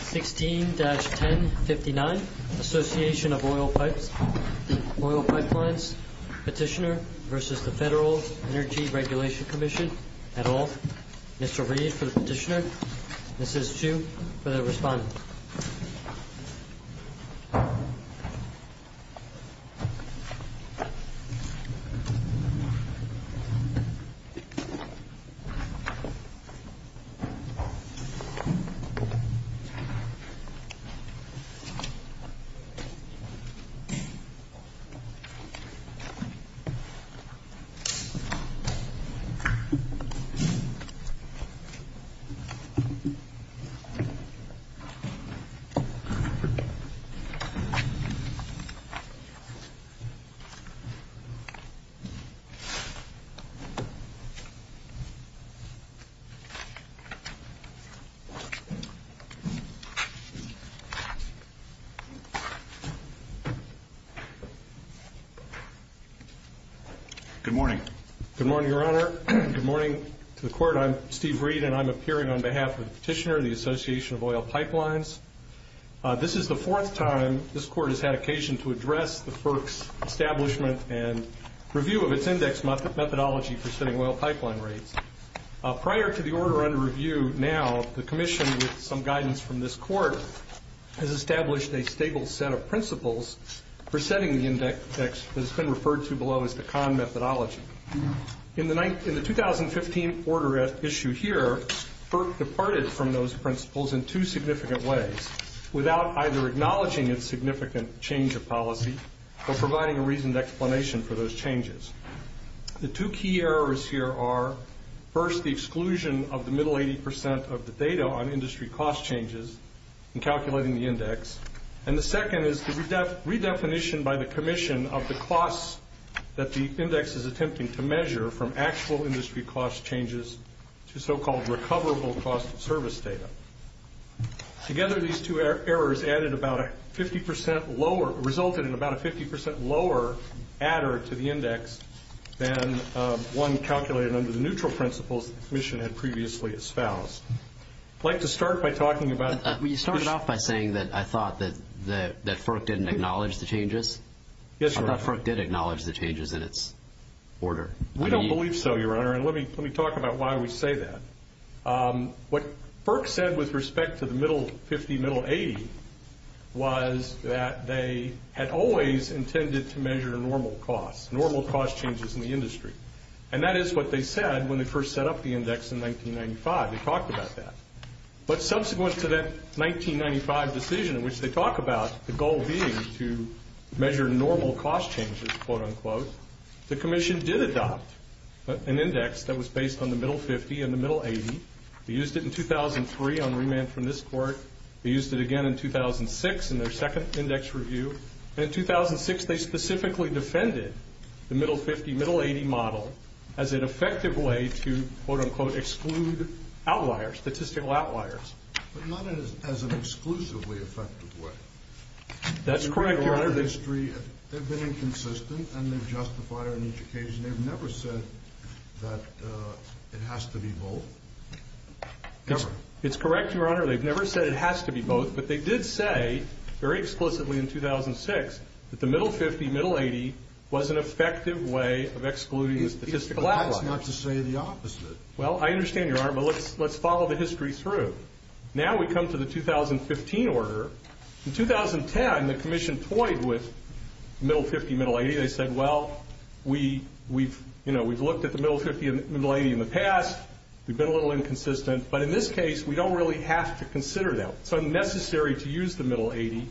16-1059, Association of Oil Pipes, Oil Pipe Lines, Petitioner v. FEDERAL ENERGY REGULATION COMMISSION, et al. Mr. Reed for the petitioner, Mrs. Chu for the respondent. Petitioner v. FEDERAL ENERGY REGULATION COMMISSION, et al. Good morning. Good morning, Your Honor. Good morning to the court. I'm Steve Reed, and I'm appearing on behalf of the petitioner, the Association of Oil Pipelines. This is the fourth time this court has had occasion to address the FERC's establishment and review of its index methodology for setting oil pipeline rates. Prior to the order under review now, the commission, with some guidance from this court, has established a stable set of principles for setting the index that has been referred to below as the CON methodology. In the 2015 order at issue here, FERC departed from those principles in two significant ways, without either acknowledging its significant change of policy or providing a reasoned explanation for those changes. The two key errors here are, first, the exclusion of the middle 80 percent of the data on industry cost changes in calculating the index, and the second is the redefinition by the commission of the costs that the index is attempting to measure from actual industry cost changes to so-called recoverable cost of service data. Together, these two errors resulted in about a 50 percent lower adder to the index than one calculated under the neutral principles the commission had previously espoused. I'd like to start by talking about... You started off by saying that I thought that FERC didn't acknowledge the changes. Yes, Your Honor. I thought FERC did acknowledge the changes in its order. We don't believe so, Your Honor, and let me talk about why we say that. What FERC said with respect to the middle 50, middle 80, was that they had always intended to measure normal costs, normal cost changes in the industry, and that is what they said when they first set up the index in 1995. They talked about that. But subsequent to that 1995 decision in which they talk about the goal being to measure normal cost changes, the commission did adopt an index that was based on the middle 50 and the middle 80. They used it in 2003 on remand from this court. They used it again in 2006 in their second index review, and in 2006 they specifically defended the middle 50, middle 80 model as an effective way to, quote, unquote, exclude outliers, statistical outliers. But not as an exclusively effective way. That's correct, Your Honor. They've been inconsistent, and they've justified it on each occasion. They've never said that it has to be both. It's correct, Your Honor. They've never said it has to be both, but they did say very explicitly in 2006 that the middle 50, middle 80 was an effective way of excluding statistical outliers. That's not to say the opposite. Well, I understand, Your Honor, but let's follow the history through. Now we come to the 2015 order. In 2010 the commission toyed with middle 50, middle 80. They said, well, we've looked at the middle 50 and middle 80 in the past. We've been a little inconsistent, but in this case we don't really have to consider them. It's unnecessary to use the middle 80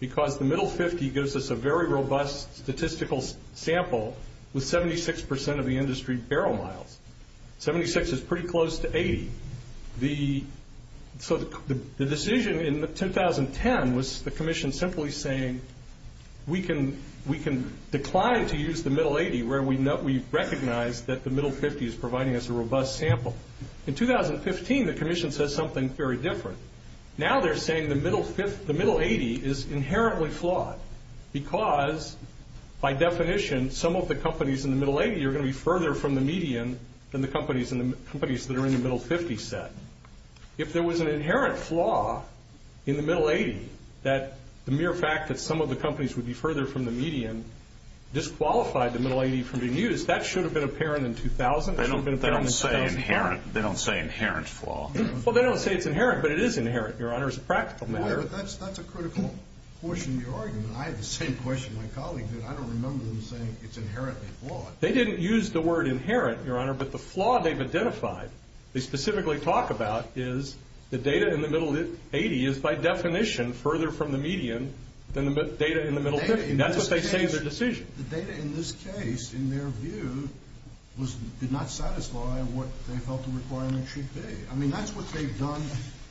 because the middle 50 gives us a very robust statistical sample with 76% of the industry barrel miles. Seventy-six is pretty close to 80. So the decision in 2010 was the commission simply saying we can decline to use the middle 80 where we recognize that the middle 50 is providing us a robust sample. In 2015 the commission said something very different. Now they're saying the middle 80 is inherently flawed because by definition some of the companies in the middle 80 are going to be further from the median than the companies that are in the middle 50 set. If there was an inherent flaw in the middle 80 that the mere fact that some of the companies would be further from the median disqualified the middle 80 from being used, that should have been apparent in 2000. They don't say inherent. They don't say inherent flaw. Well, they don't say it's inherent, but it is inherent, Your Honor, as a practical matter. That's a critical portion of your argument. I had the same question my colleague did. I don't remember them saying it's inherently flawed. They didn't use the word inherent, Your Honor, but the flaw they've identified, they specifically talk about is the data in the middle 80 is by definition further from the median than the data in the middle 50. That's what they say is their decision. The data in this case, in their view, did not satisfy what they felt the requirement should be. I mean, that's what they've done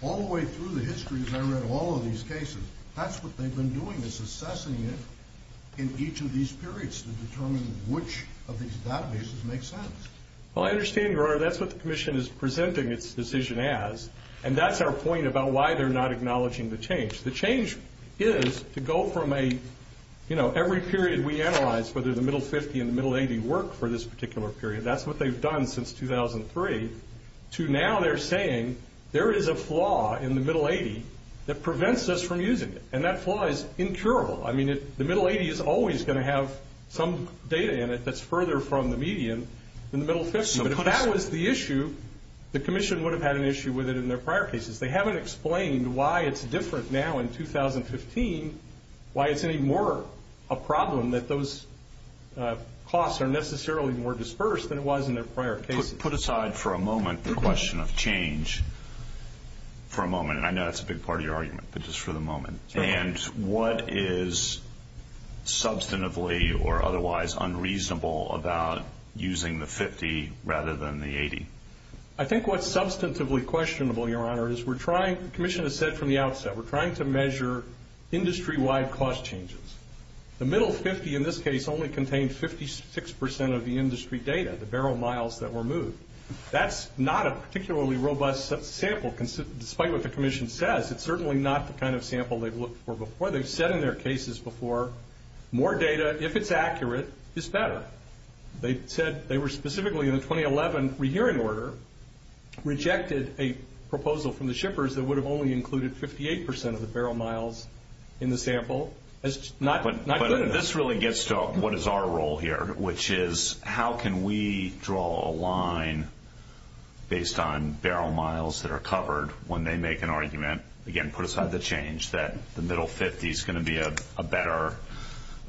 all the way through the history, as I read all of these cases. That's what they've been doing is assessing it in each of these periods to determine which of these databases makes sense. Well, I understand, Your Honor. That's what the Commission is presenting its decision as, and that's our point about why they're not acknowledging the change. The change is to go from a, you know, every period we analyze, whether the middle 50 and the middle 80 work for this particular period. That's what they've done since 2003 to now they're saying there is a flaw in the middle 80 that prevents us from using it, and that flaw is incurable. I mean, the middle 80 is always going to have some data in it that's further from the median than the middle 50, but if that was the issue, the Commission would have had an issue with it in their prior cases. They haven't explained why it's different now in 2015, why it's any more a problem that those costs are necessarily more dispersed than it was in their prior cases. Put aside for a moment the question of change for a moment, and I know that's a big part of your argument, but just for the moment. And what is substantively or otherwise unreasonable about using the 50 rather than the 80? I think what's substantively questionable, Your Honor, is we're trying, the Commission has said from the outset, we're trying to measure industry-wide cost changes. The middle 50 in this case only contained 56 percent of the industry data, the barrel miles that were moved. That's not a particularly robust sample, despite what the Commission says. It's certainly not the kind of sample they've looked for before. They've said in their cases before, more data, if it's accurate, is better. They said they were specifically in the 2011 rehearing order rejected a proposal from the shippers that would have only included 58 percent of the barrel miles in the sample as not good enough. But this really gets to what is our role here, which is how can we draw a line based on barrel miles that are covered when they make an argument, again, put aside the change, that the middle 50 is going to be a better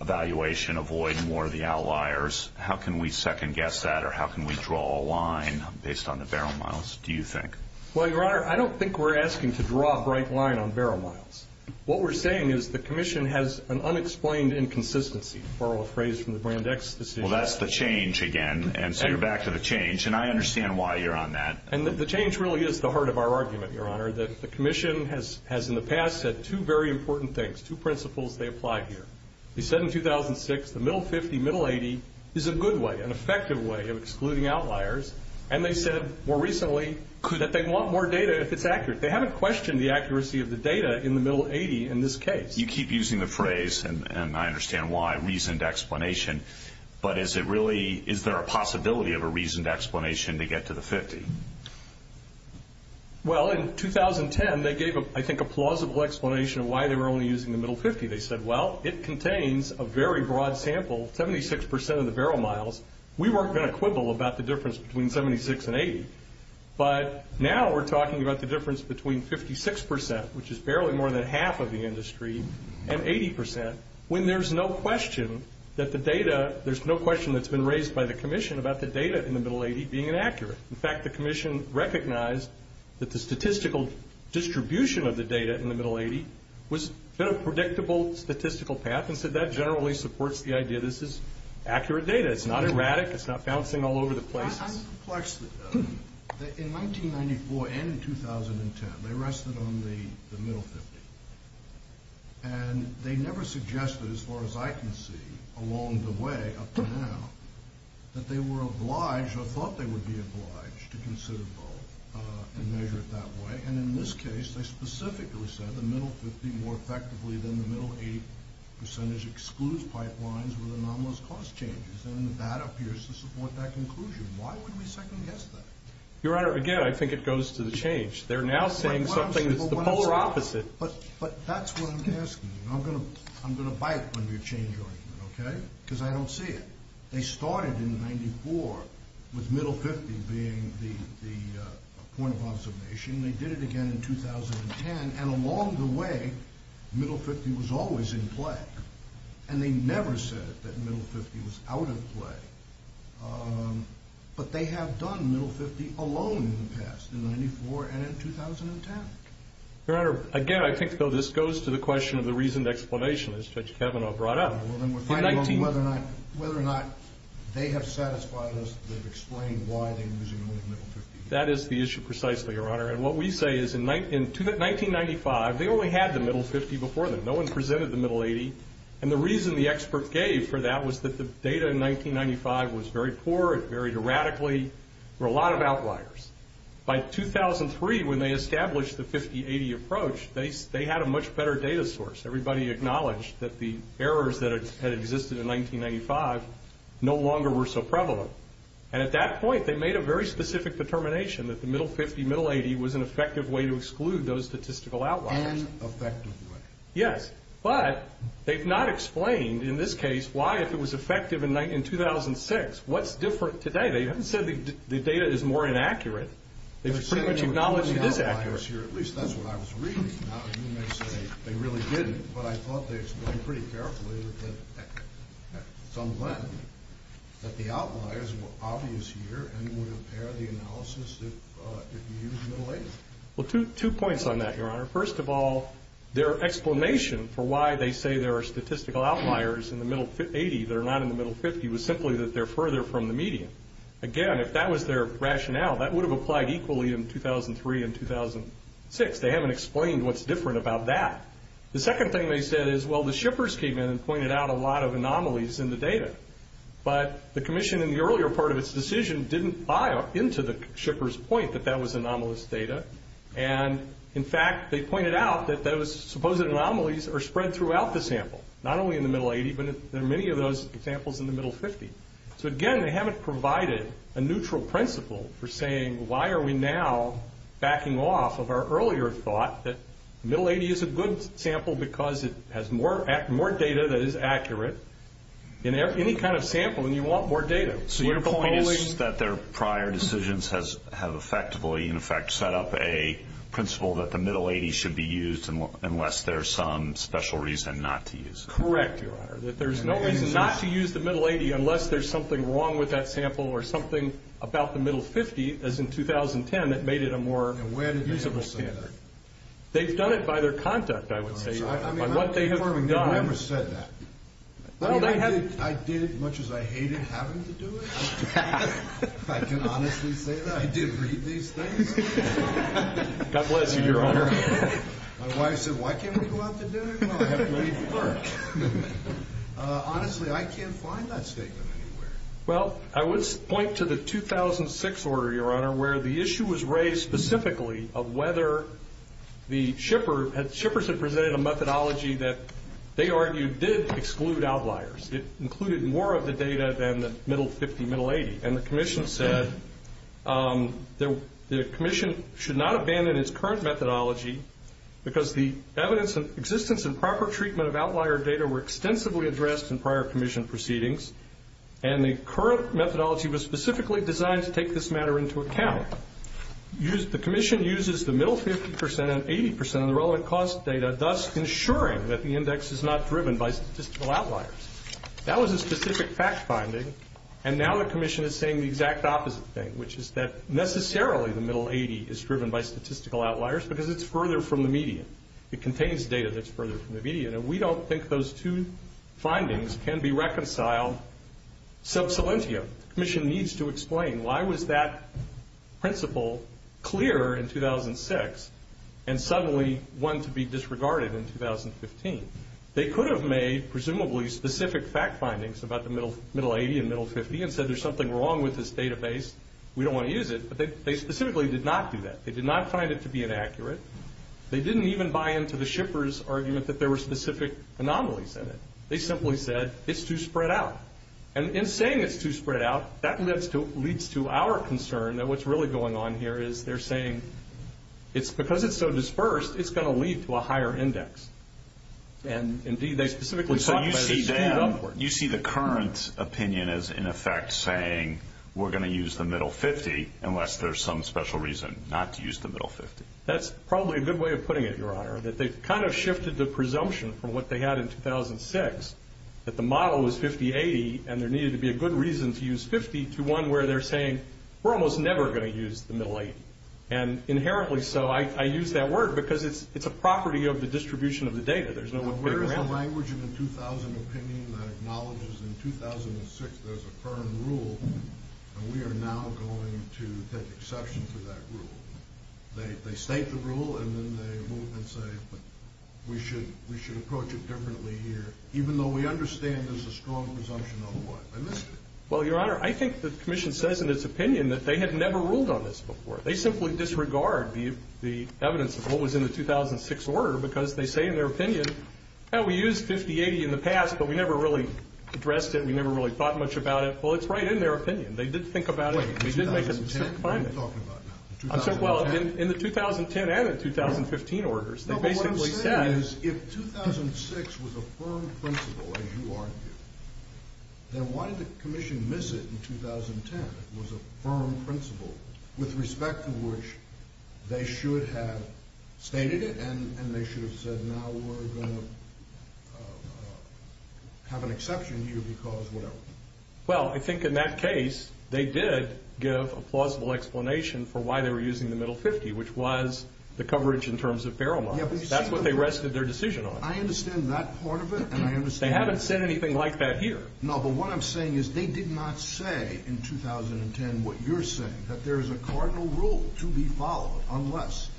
evaluation, avoid more of the outliers. How can we second-guess that, or how can we draw a line based on the barrel miles, do you think? Well, Your Honor, I don't think we're asking to draw a bright line on barrel miles. What we're saying is the Commission has an unexplained inconsistency, to borrow a phrase from the Brandeis decision. Well, that's the change again, and so you're back to the change, and I understand why you're on that. And the change really is the heart of our argument, Your Honor, that the Commission has in the past said two very important things, two principles they apply here. They said in 2006 the middle 50, middle 80 is a good way, an effective way of excluding outliers, and they said more recently that they want more data if it's accurate. They haven't questioned the accuracy of the data in the middle 80 in this case. You keep using the phrase, and I understand why, reasoned explanation, but is there a possibility of a reasoned explanation to get to the 50? Well, in 2010 they gave, I think, a plausible explanation of why they were only using the middle 50. They said, well, it contains a very broad sample, 76% of the barrel miles. We weren't going to quibble about the difference between 76 and 80, but now we're talking about the difference between 56%, which is barely more than half of the industry, and 80% when there's no question that the data, there's no question that's been raised by the Commission about the data in the middle 80 being inaccurate. In fact, the Commission recognized that the statistical distribution of the data in the middle 80 was a predictable statistical path and said that generally supports the idea this is accurate data. It's not erratic. It's not bouncing all over the place. This is complex. In 1994 and in 2010, they rested on the middle 50, and they never suggested as far as I can see along the way up to now that they were obliged or thought they would be obliged to consider both and measure it that way, and in this case they specifically said the middle 50 more effectively than the middle 80 percentage excludes pipelines with anomalous cost changes, and that appears to support that conclusion. Why would we second-guess that? Your Honor, again, I think it goes to the change. They're now saying something that's the polar opposite. But that's what I'm asking. I'm going to bite on your change argument, okay, because I don't see it. They started in 1994 with middle 50 being the point of observation. They did it again in 2010, and along the way middle 50 was always in play, and they never said that middle 50 was out of play. But they have done middle 50 alone in the past, in 1994 and in 2010. Your Honor, again, I think, though, this goes to the question of the reasoned explanation, as Judge Kavanaugh brought up. Well, then we're fighting on whether or not they have satisfied us. They've explained why they were using only the middle 50. That is the issue precisely, Your Honor. And what we say is in 1995 they only had the middle 50 before them. No one presented the middle 80. And the reason the expert gave for that was that the data in 1995 was very poor. It varied radically. There were a lot of outliers. By 2003, when they established the 50-80 approach, they had a much better data source. Everybody acknowledged that the errors that had existed in 1995 no longer were so prevalent. And at that point they made a very specific determination that the middle 50, middle 80, was an effective way to exclude those statistical outliers. An effective way. Yes. But they've not explained, in this case, why if it was effective in 2006, what's different today. They haven't said the data is more inaccurate. They've pretty much acknowledged it is accurate. At least that's what I was reading. Now, you may say they really didn't, but I thought they explained pretty carefully at some length that the outliers were obvious here and would impair the analysis if you used middle 80. Well, two points on that, Your Honor. First of all, their explanation for why they say there are statistical outliers in the middle 80 that are not in the middle 50 was simply that they're further from the median. Again, if that was their rationale, that would have applied equally in 2003 and 2006. They haven't explained what's different about that. The second thing they said is, well, the shippers came in and pointed out a lot of anomalies in the data. But the Commission, in the earlier part of its decision, didn't buy into the shippers' point that that was anomalous data. And, in fact, they pointed out that those supposed anomalies are spread throughout the sample, not only in the middle 80, but there are many of those examples in the middle 50. So, again, they haven't provided a neutral principle for saying, why are we now backing off of our earlier thought that middle 80 is a good sample because it has more data that is accurate in any kind of sample, and you want more data. So your point is that their prior decisions have effectively, in effect, set up a principle that the middle 80 should be used unless there's some special reason not to use it. Correct, Your Honor, that there's no reason not to use the middle 80 unless there's something wrong with that sample or something about the middle 50, as in 2010, that made it a more usable sample. And where did they ever say that? They've done it by their conduct, I would say, by what they have done. I never said that. I did it as much as I hated having to do it. If I can honestly say that. I did read these things. God bless you, Your Honor. My wife said, why can't we go out to dinner? Well, I have to leave for work. Honestly, I can't find that statement anywhere. Well, I would point to the 2006 order, Your Honor, where the issue was raised specifically of whether the shippers had presented a methodology that they argued did exclude outliers. It included more of the data than the middle 50, middle 80. And the Commission said the Commission should not abandon its current methodology because the evidence of existence and proper treatment of outlier data were extensively addressed in prior Commission proceedings, and the current methodology was specifically designed to take this matter into account. The Commission uses the middle 50% and 80% of the relevant cost data, thus ensuring that the index is not driven by statistical outliers. That was a specific fact finding, and now the Commission is saying the exact opposite thing, which is that necessarily the middle 80 is driven by statistical outliers because it's further from the median. It contains data that's further from the median, and we don't think those two findings can be reconciled sub salientio. The Commission needs to explain why was that principle clear in 2006 and suddenly one to be disregarded in 2015. They could have made presumably specific fact findings about the middle 80 and middle 50 and said there's something wrong with this database, we don't want to use it, but they specifically did not do that. They did not find it to be inaccurate. They didn't even buy into the shippers' argument that there were specific anomalies in it. They simply said it's too spread out. And in saying it's too spread out, that leads to our concern that what's really going on here is they're saying because it's so dispersed, it's going to lead to a higher index. And, indeed, they specifically talked about this upward. So you see the current opinion as, in effect, saying we're going to use the middle 50 unless there's some special reason not to use the middle 50. That's probably a good way of putting it, Your Honor, that they've kind of shifted the presumption from what they had in 2006 that the model was 50-80 and there needed to be a good reason to use 50 to one where they're saying we're almost never going to use the middle 80. And inherently so. I use that word because it's a property of the distribution of the data. There's no one figure around it. Where is the language in the 2000 opinion that acknowledges in 2006 there's a firm rule and we are now going to take exception to that rule? They state the rule and then they move and say we should approach it differently here, even though we understand there's a strong presumption of what? I missed it. Well, Your Honor, I think the Commission says in its opinion that they had never ruled on this before. They simply disregard the evidence of what was in the 2006 order because they say in their opinion, we used 50-80 in the past but we never really addressed it and we never really thought much about it. Well, it's right in their opinion. They didn't think about it. They didn't make a specific finding. What are you talking about now? Well, in the 2010 and the 2015 orders, they basically said. No, but what I'm saying is if 2006 was a firm principle as you argue, then why did the Commission miss it in 2010? It was a firm principle with respect to which they should have stated it and they should have said now we're going to have an exception here because whatever. Well, I think in that case, they did give a plausible explanation for why they were using the middle 50, which was the coverage in terms of barrel models. That's what they rested their decision on. I understand that part of it and I understand. They haven't said anything like that here. No, but what I'm saying is they did not say in 2010 what you're saying, that there is a cardinal rule to be followed unless.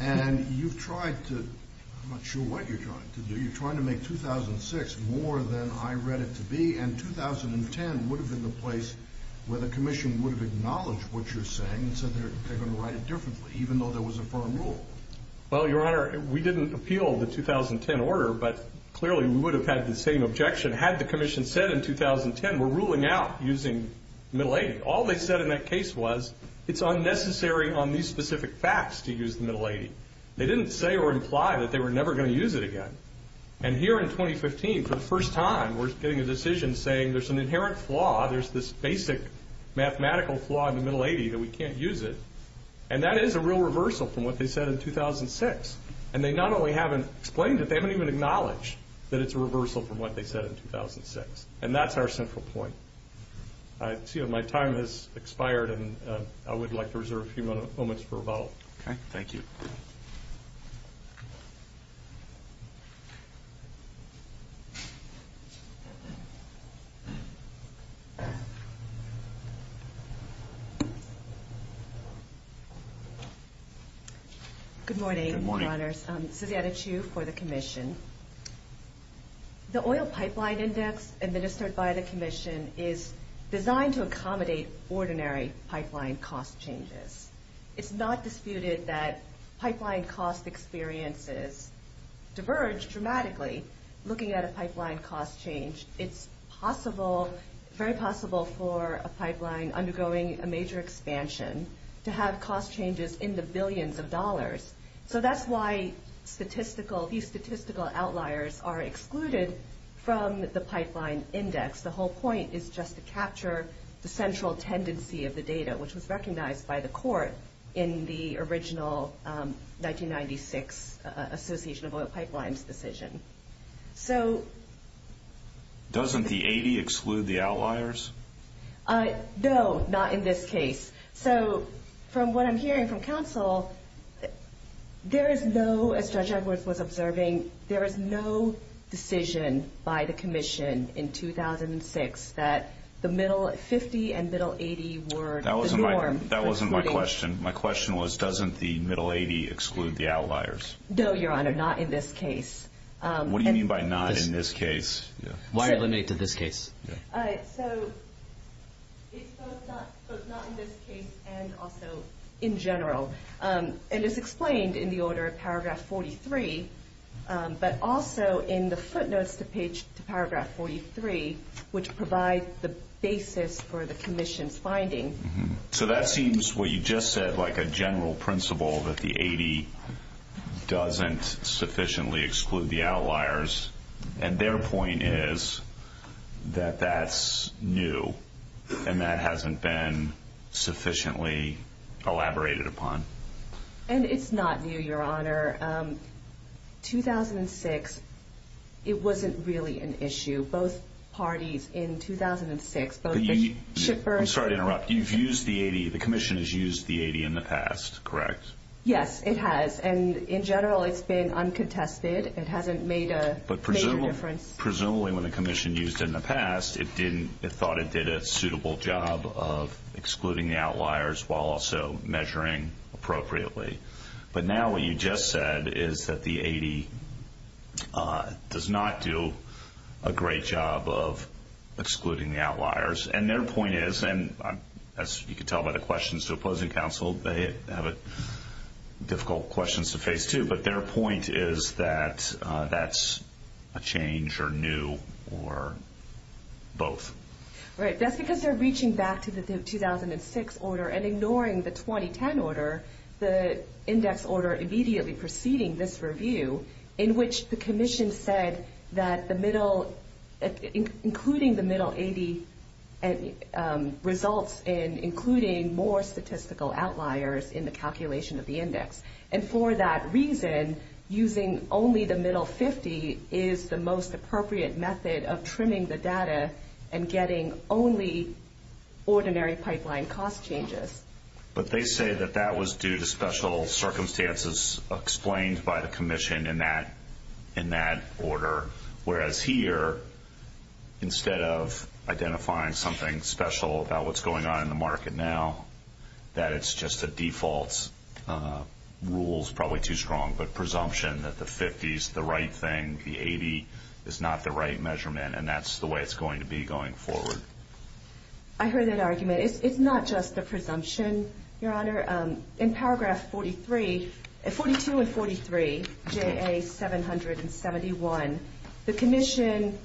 And you've tried to, I'm not sure what you're trying to do. You're trying to make 2006 more than I read it to be and 2010 would have been the place where the Commission would have acknowledged what you're saying and said they're going to write it differently even though there was a firm rule. Well, Your Honor, we didn't appeal the 2010 order but clearly we would have had the same objection had the Commission said in 2010 we're ruling out using the middle 80. All they said in that case was it's unnecessary on these specific facts to use the middle 80. They didn't say or imply that they were never going to use it again. And here in 2015 for the first time we're getting a decision saying there's an inherent flaw, there's this basic mathematical flaw in the middle 80 that we can't use it, and that is a real reversal from what they said in 2006. And they not only haven't explained it, they haven't even acknowledged that it's a reversal from what they said in 2006. And that's our central point. I see that my time has expired and I would like to reserve a few moments for rebuttal. Okay, thank you. Good morning, Your Honors. Good morning. Susanna Chu for the Commission. The Oil Pipeline Index administered by the Commission is designed to accommodate ordinary pipeline cost changes. It's not disputed that pipeline cost experiences diverge dramatically. Looking at a pipeline cost change, it's very possible for a pipeline undergoing a major expansion to have cost changes in the billions of dollars. So that's why these statistical outliers are excluded from the pipeline index. The whole point is just to capture the central tendency of the data, which was recognized by the court in the original 1996 Association of Oil Pipelines decision. Doesn't the 80 exclude the outliers? No, not in this case. So from what I'm hearing from counsel, there is no, as Judge Edwards was observing, there is no decision by the Commission in 2006 that the middle 50 and middle 80 were That wasn't my question. My question was, doesn't the middle 80 exclude the outliers? No, Your Honor, not in this case. What do you mean by not in this case? Why are you limiting it to this case? So it's both not in this case and also in general. And it's explained in the order of paragraph 43, but also in the footnotes to page to paragraph 43, which provide the basis for the Commission's finding. So that seems, what you just said, like a general principle that the 80 doesn't sufficiently exclude the outliers. And their point is that that's new and that hasn't been sufficiently elaborated upon. And it's not new, Your Honor. 2006, it wasn't really an issue. Both parties in 2006, both the shippers I'm sorry to interrupt. You've used the 80, the Commission has used the 80 in the past, correct? Yes, it has. And in general, it's been uncontested. It hasn't made a major difference. But presumably when the Commission used it in the past, it thought it did a suitable job of excluding the outliers while also measuring appropriately. But now what you just said is that the 80 does not do a great job of excluding the outliers. And their point is, and as you can tell by the questions to opposing counsel, they have difficult questions to face too. But their point is that that's a change or new or both. Right. That's because they're reaching back to the 2006 order and ignoring the 2010 order. The index order immediately preceding this review in which the Commission said that the middle, including the middle 80 results in including more statistical outliers in the calculation of the index. And for that reason, using only the middle 50 is the most appropriate method of trimming the data and getting only ordinary pipeline cost changes. But they say that that was due to special circumstances explained by the Commission in that order. Whereas here, instead of identifying something special about what's going on in the market now, that it's just a default rule is probably too strong, but presumption that the 50 is the right thing, the 80 is not the right measurement, and that's the way it's going to be going forward. I heard that argument. It's not just the presumption, Your Honor. In paragraph 42 and 43, JA-771, the Commission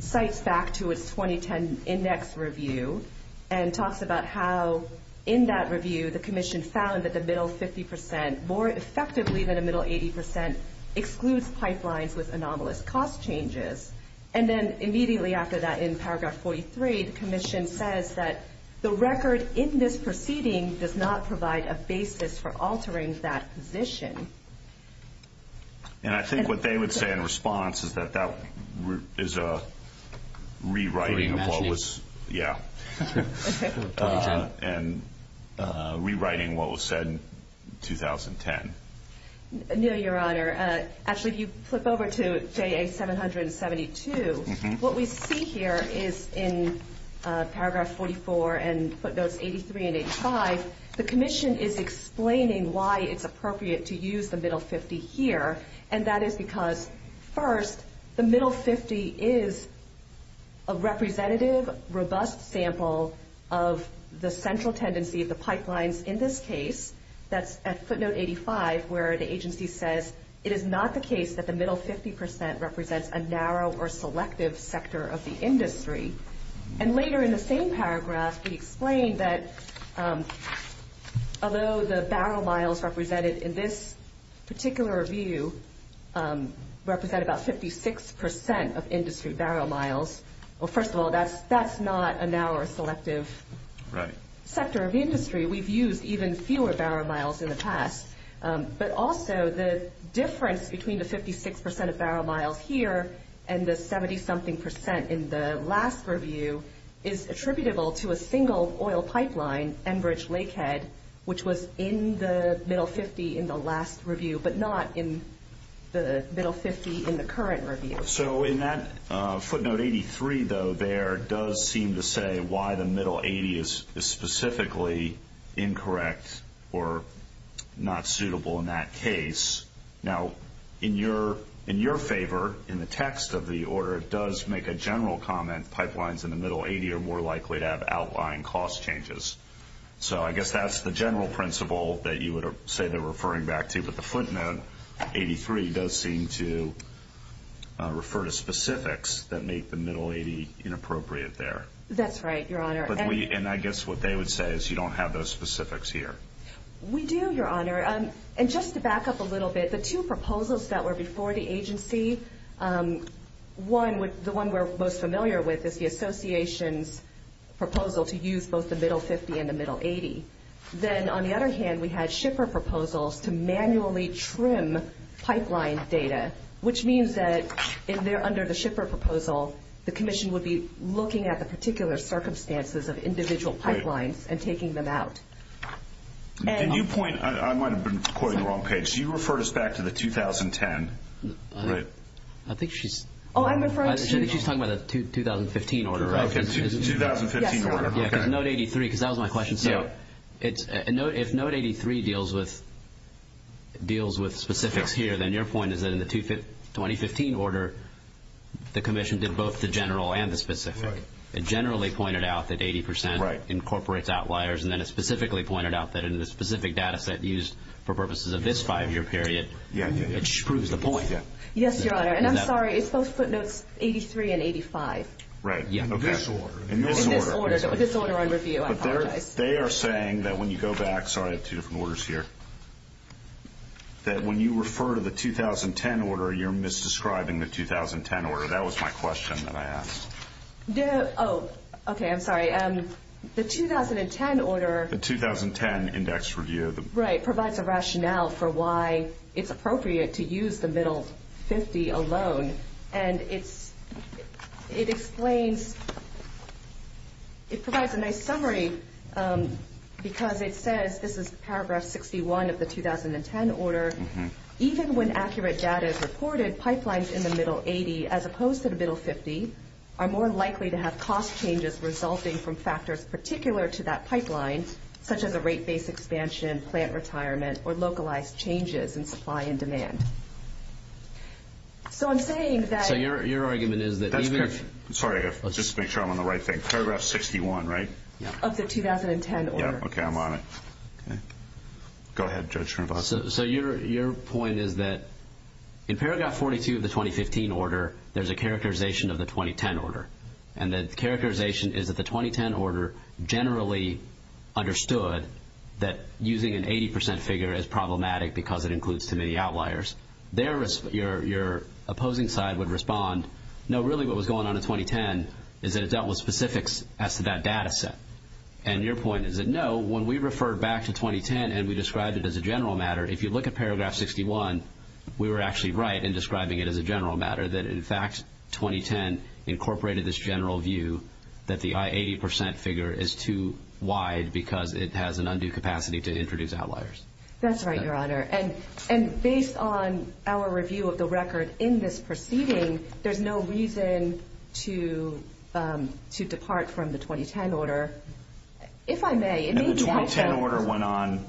cites back to its 2010 index review and talks about how in that review the Commission found that the middle 50% more effectively than the middle 80% excludes pipelines with anomalous cost changes. And then immediately after that, in paragraph 43, the Commission says that the record in this proceeding does not provide a basis for altering that position. And I think what they would say in response is that that is a rewriting of what was said in 2010. Neil, Your Honor, actually, if you flip over to JA-772, what we see here is in paragraph 44 and footnotes 83 and 85, the Commission is explaining why it's appropriate to use the middle 50 here, and that is because first, the middle 50 is a representative, robust sample of the central tendency of the pipelines in this case, that's at footnote 85, where the agency says, it is not the case that the middle 50% represents a narrow or selective sector of the industry. And later in the same paragraph, we explain that although the barrel miles represented in this particular review represent about 56% of industry barrel miles, well, first of all, that's not a narrow or selective sector of industry. We've used even fewer barrel miles in the past. But also, the difference between the 56% of barrel miles here and the 70-something percent in the last review is attributable to a single oil pipeline, Enbridge-Lakehead, which was in the middle 50 in the last review, but not in the middle 50 in the current review. So in that footnote 83, though, there does seem to say why the middle 80 is specifically incorrect or not suitable in that case. Now, in your favor, in the text of the order, it does make a general comment, pipelines in the middle 80 are more likely to have outlying cost changes. So I guess that's the general principle that you would say they're referring back to, but the footnote 83 does seem to refer to specifics that make the middle 80 inappropriate there. That's right, Your Honor. And I guess what they would say is you don't have those specifics here. We do, Your Honor. And just to back up a little bit, the two proposals that were before the agency, the one we're most familiar with is the association's proposal to use both the middle 50 and the middle 80. Then on the other hand, we had shipper proposals to manually trim pipeline data, which means that under the shipper proposal, the commission would be looking at the particular circumstances of individual pipelines and taking them out. Can you point? I might have been quite on the wrong page. You referred us back to the 2010, right? I think she's talking about the 2015 order, right? Okay, 2015 order, okay. Note 83, because that was my question. If note 83 deals with specifics here, then your point is that in the 2015 order, the commission did both the general and the specific. It generally pointed out that 80% incorporates outliers, and then it specifically pointed out that in the specific data set used for purposes of this five-year period, it shrews the point. Yes, Your Honor. And I'm sorry, it's both footnotes 83 and 85. Right, in this order. This order on review, I apologize. They are saying that when you go back, sorry, I have two different orders here, that when you refer to the 2010 order, you're misdescribing the 2010 order. That was my question that I asked. Oh, okay, I'm sorry. The 2010 order. The 2010 index review. Right, provides a rationale for why it's appropriate to use the middle 50 alone, and it explains, it provides a nice summary because it says, this is paragraph 61 of the 2010 order, even when accurate data is reported, pipelines in the middle 80, as opposed to the middle 50, are more likely to have cost changes resulting from factors particular to that pipeline, such as a rate-based expansion, plant retirement, or localized changes in supply and demand. So I'm saying that... So your argument is that even... Sorry, just to make sure I'm on the right thing. Paragraph 61, right? Of the 2010 order. Yeah, okay, I'm on it. Go ahead, Judge Shrinvastava. So your point is that in paragraph 42 of the 2015 order, there's a characterization of the 2010 order. And the characterization is that the 2010 order generally understood that using an 80% figure is problematic because it includes too many outliers. Your opposing side would respond, no, really what was going on in 2010 is that it dealt with specifics as to that data set. And your point is that, no, when we refer back to 2010 and we described it as a general matter, if you look at paragraph 61, we were actually right in describing it as a general matter, that in fact 2010 incorporated this general view that the 80% figure is too wide because it has an undue capacity to introduce outliers. That's right, Your Honor. And based on our review of the record in this proceeding, there's no reason to depart from the 2010 order. If I may, it made sense... And the 2010 order went on,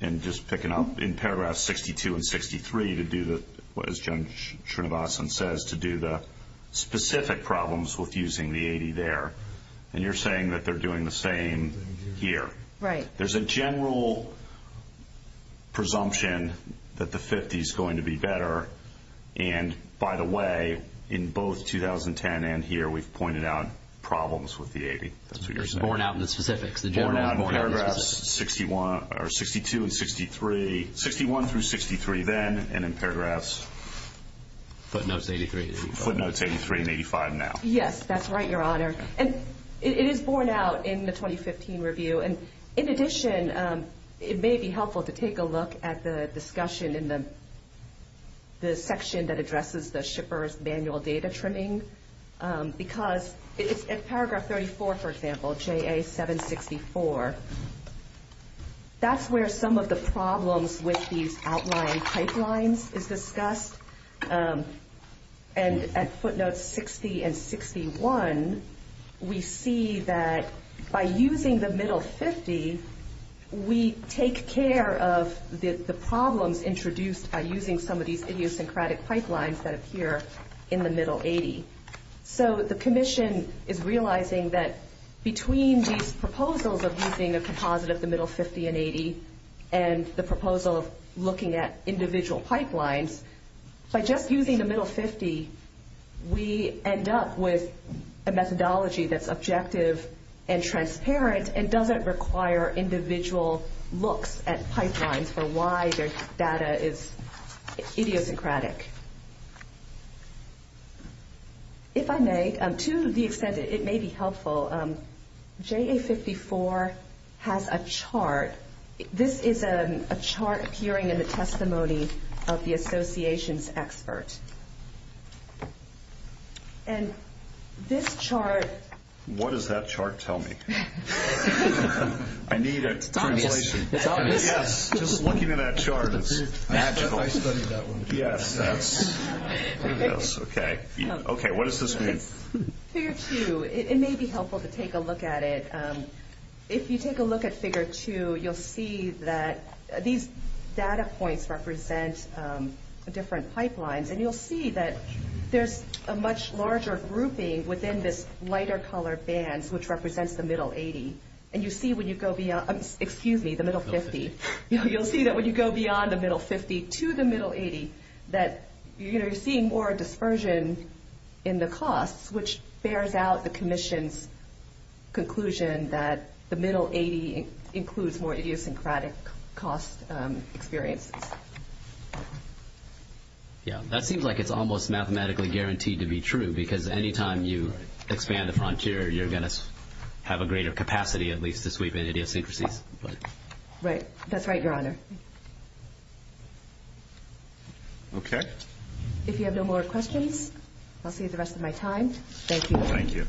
and just picking up, in paragraph 62 and 63 to do what, as Judge Shrinvastava says, to do the specific problems with using the 80 there. And you're saying that they're doing the same here. Right. There's a general presumption that the 50 is going to be better. And, by the way, in both 2010 and here, we've pointed out problems with the 80. That's what you're saying. Born out in the specifics. Born out in paragraphs 62 and 63, 61 through 63 then, and in paragraphs... Footnotes 83 and 85. Footnotes 83 and 85 now. Yes, that's right, Your Honor. And it is born out in the 2015 review. And, in addition, it may be helpful to take a look at the discussion in the section that addresses the shipper's manual data trimming. Because it's at paragraph 34, for example, JA 764. That's where some of the problems with these outlying pipelines is discussed. And at footnotes 60 and 61, we see that by using the middle 50, we take care of the problems introduced by using some of these idiosyncratic pipelines that appear in the middle 80. So the commission is realizing that between these proposals of using a composite of the middle 50 and 80 and the proposal of looking at individual pipelines, by just using the middle 50, we end up with a methodology that's objective and transparent and doesn't require individual looks at pipelines for why their data is idiosyncratic. If I may, to the extent it may be helpful, JA 54 has a chart. This is a chart appearing in the testimony of the associations expert. And this chart... What does that chart tell me? I need a translation. It's obvious. Yes, just looking at that chart, it's magical. I studied that one. Yes, that's... Okay. Okay, what does this mean? Figure 2. It may be helpful to take a look at it. If you take a look at figure 2, you'll see that these data points represent different pipelines. And you'll see that there's a much larger grouping within this lighter-colored band, which represents the middle 80. And you see when you go beyond... Excuse me, the middle 50. You'll see that when you go beyond the middle 50 to the middle 80 that you're seeing more dispersion in the costs, which bears out the commission's conclusion that the middle 80 includes more idiosyncratic cost experiences. Yes, that seems like it's almost mathematically guaranteed to be true because any time you expand the frontier, you're going to have a greater capacity at least to sweep in idiosyncrasies. Right, that's right, Your Honor. Okay. If you have no more questions, I'll save the rest of my time. Thank you. Thank you.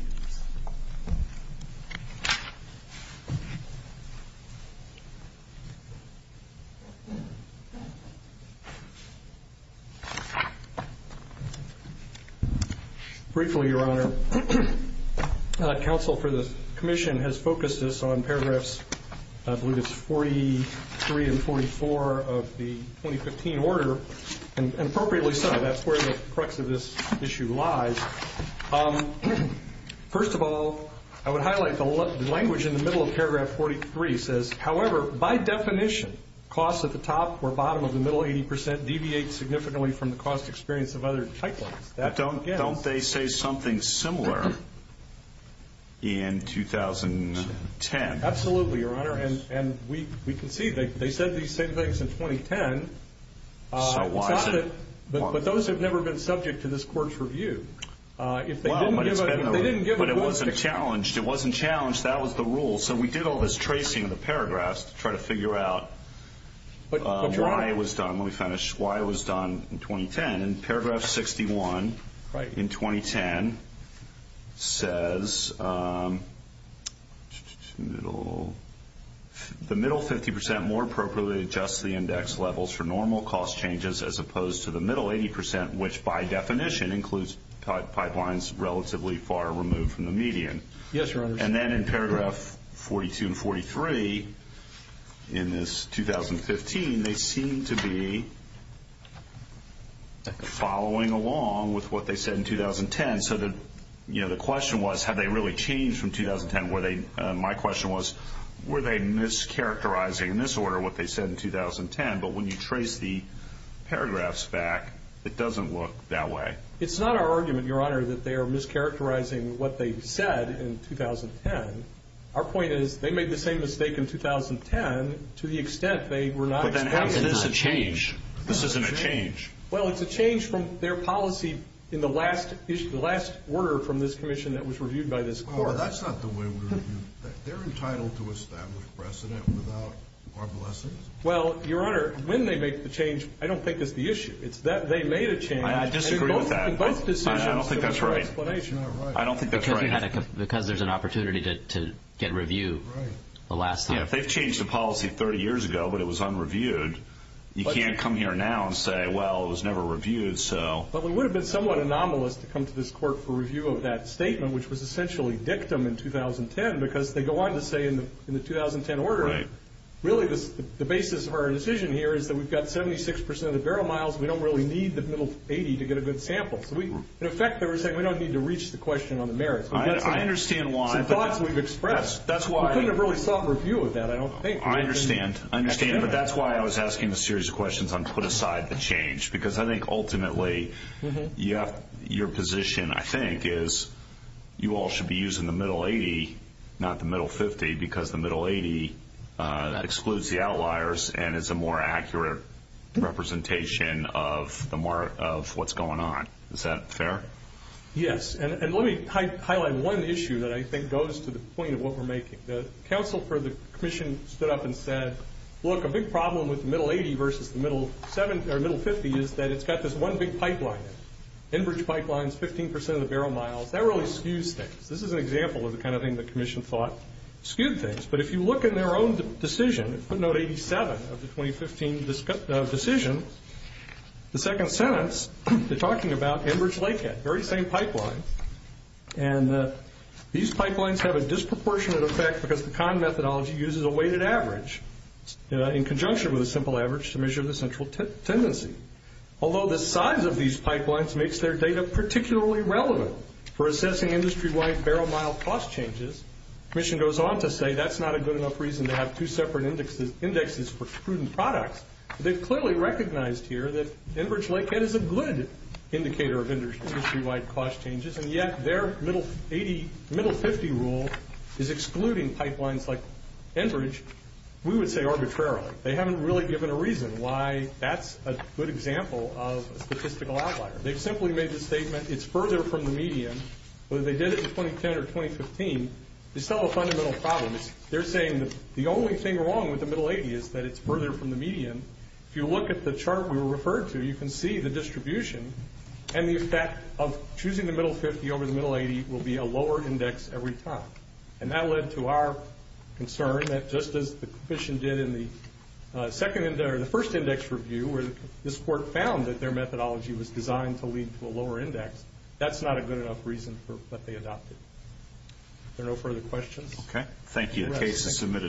Briefly, Your Honor, counsel for the commission has focused this on paragraphs, I believe it's 43 and 44 of the 2015 order. And appropriately so. That's where the crux of this issue lies. First of all, I would highlight the language in the middle of paragraph 43 says, however, by definition, costs at the top or bottom of the middle 80% deviate significantly from the cost experience of other type lines. Don't they say something similar in 2010? Absolutely, Your Honor. And we can see they said these same things in 2010. So why? But those have never been subject to this court's review. But it wasn't challenged. It wasn't challenged. That was the rule. So we did all this tracing of the paragraphs to try to figure out why it was done when we finished, why it was done in 2010. And in paragraph 61 in 2010 says the middle 50% more appropriately adjusts the index levels for normal cost changes as opposed to the middle 80%, which by definition includes pipelines relatively far removed from the median. Yes, Your Honor. And then in paragraph 42 and 43 in this 2015, they seem to be following along with what they said in 2010. So the question was, have they really changed from 2010? My question was, were they mischaracterizing in this order what they said in 2010? But when you trace the paragraphs back, it doesn't look that way. It's not our argument, Your Honor, that they are mischaracterizing what they said in 2010. Our point is they made the same mistake in 2010 to the extent they were not expected to. But then how is this a change? This isn't a change. Well, it's a change from their policy in the last order from this commission that was reviewed by this court. Well, that's not the way we review that. They're entitled to establish precedent without our blessing. Well, Your Honor, when they make the change, I don't think it's the issue. It's that they made a change. I disagree with that. In both decisions, there was no explanation. I don't think that's right. Because there's an opportunity to get review the last time. Yeah, if they've changed the policy 30 years ago but it was unreviewed, you can't come here now and say, well, it was never reviewed. But we would have been somewhat anomalous to come to this court for review of that statement, which was essentially dictum in 2010 because they go on to say in the 2010 order, really the basis of our decision here is that we've got 76% of the barrel miles. We don't really need the middle 80 to get a good sample. So, in effect, they were saying we don't need to reach the question on the merits. I understand why. It's the thoughts we've expressed. That's why. We couldn't have really sought review of that, I don't think. I understand. But that's why I was asking a series of questions on put aside the change. Because I think ultimately your position, I think, is you all should be using the middle 80, not the middle 50, because the middle 80, that excludes the outliers and is a more accurate representation of what's going on. Is that fair? Yes. And let me highlight one issue that I think goes to the point of what we're making. The counsel for the commission stood up and said, look, a big problem with the middle 80 versus the middle 50 is that it's got this one big pipeline in it, Enbridge pipelines, 15% of the barrel miles. That really skews things. This is an example of the kind of thing the commission thought skewed things. But if you look in their own decision, footnote 87 of the 2015 decision, the second sentence, they're talking about Enbridge-Lakehead, very same pipeline. And these pipelines have a disproportionate effect because the Kahn methodology uses a weighted average in conjunction with a simple average to measure the central tendency. Although the size of these pipelines makes their data particularly relevant for assessing industry-wide barrel mile cost changes, the commission goes on to say that's not a good enough reason to have two separate indexes for prudent products. They've clearly recognized here that Enbridge-Lakehead is a good indicator of industry-wide cost changes, and yet their middle 50 rule is excluding pipelines like Enbridge, we would say arbitrarily. They haven't really given a reason why that's a good example of a statistical outlier. They've simply made the statement it's further from the median, whether they did it in 2010 or 2015, it's still a fundamental problem. They're saying the only thing wrong with the middle 80 is that it's further from the median. If you look at the chart we were referred to, you can see the distribution and the effect of choosing the middle 50 over the middle 80 will be a lower index every time. And that led to our concern that just as the commission did in the first index review where this court found that their methodology was designed to lead to a lower index, that's not a good enough reason for what they adopted. Are there no further questions? Okay. Thank you. The case is submitted.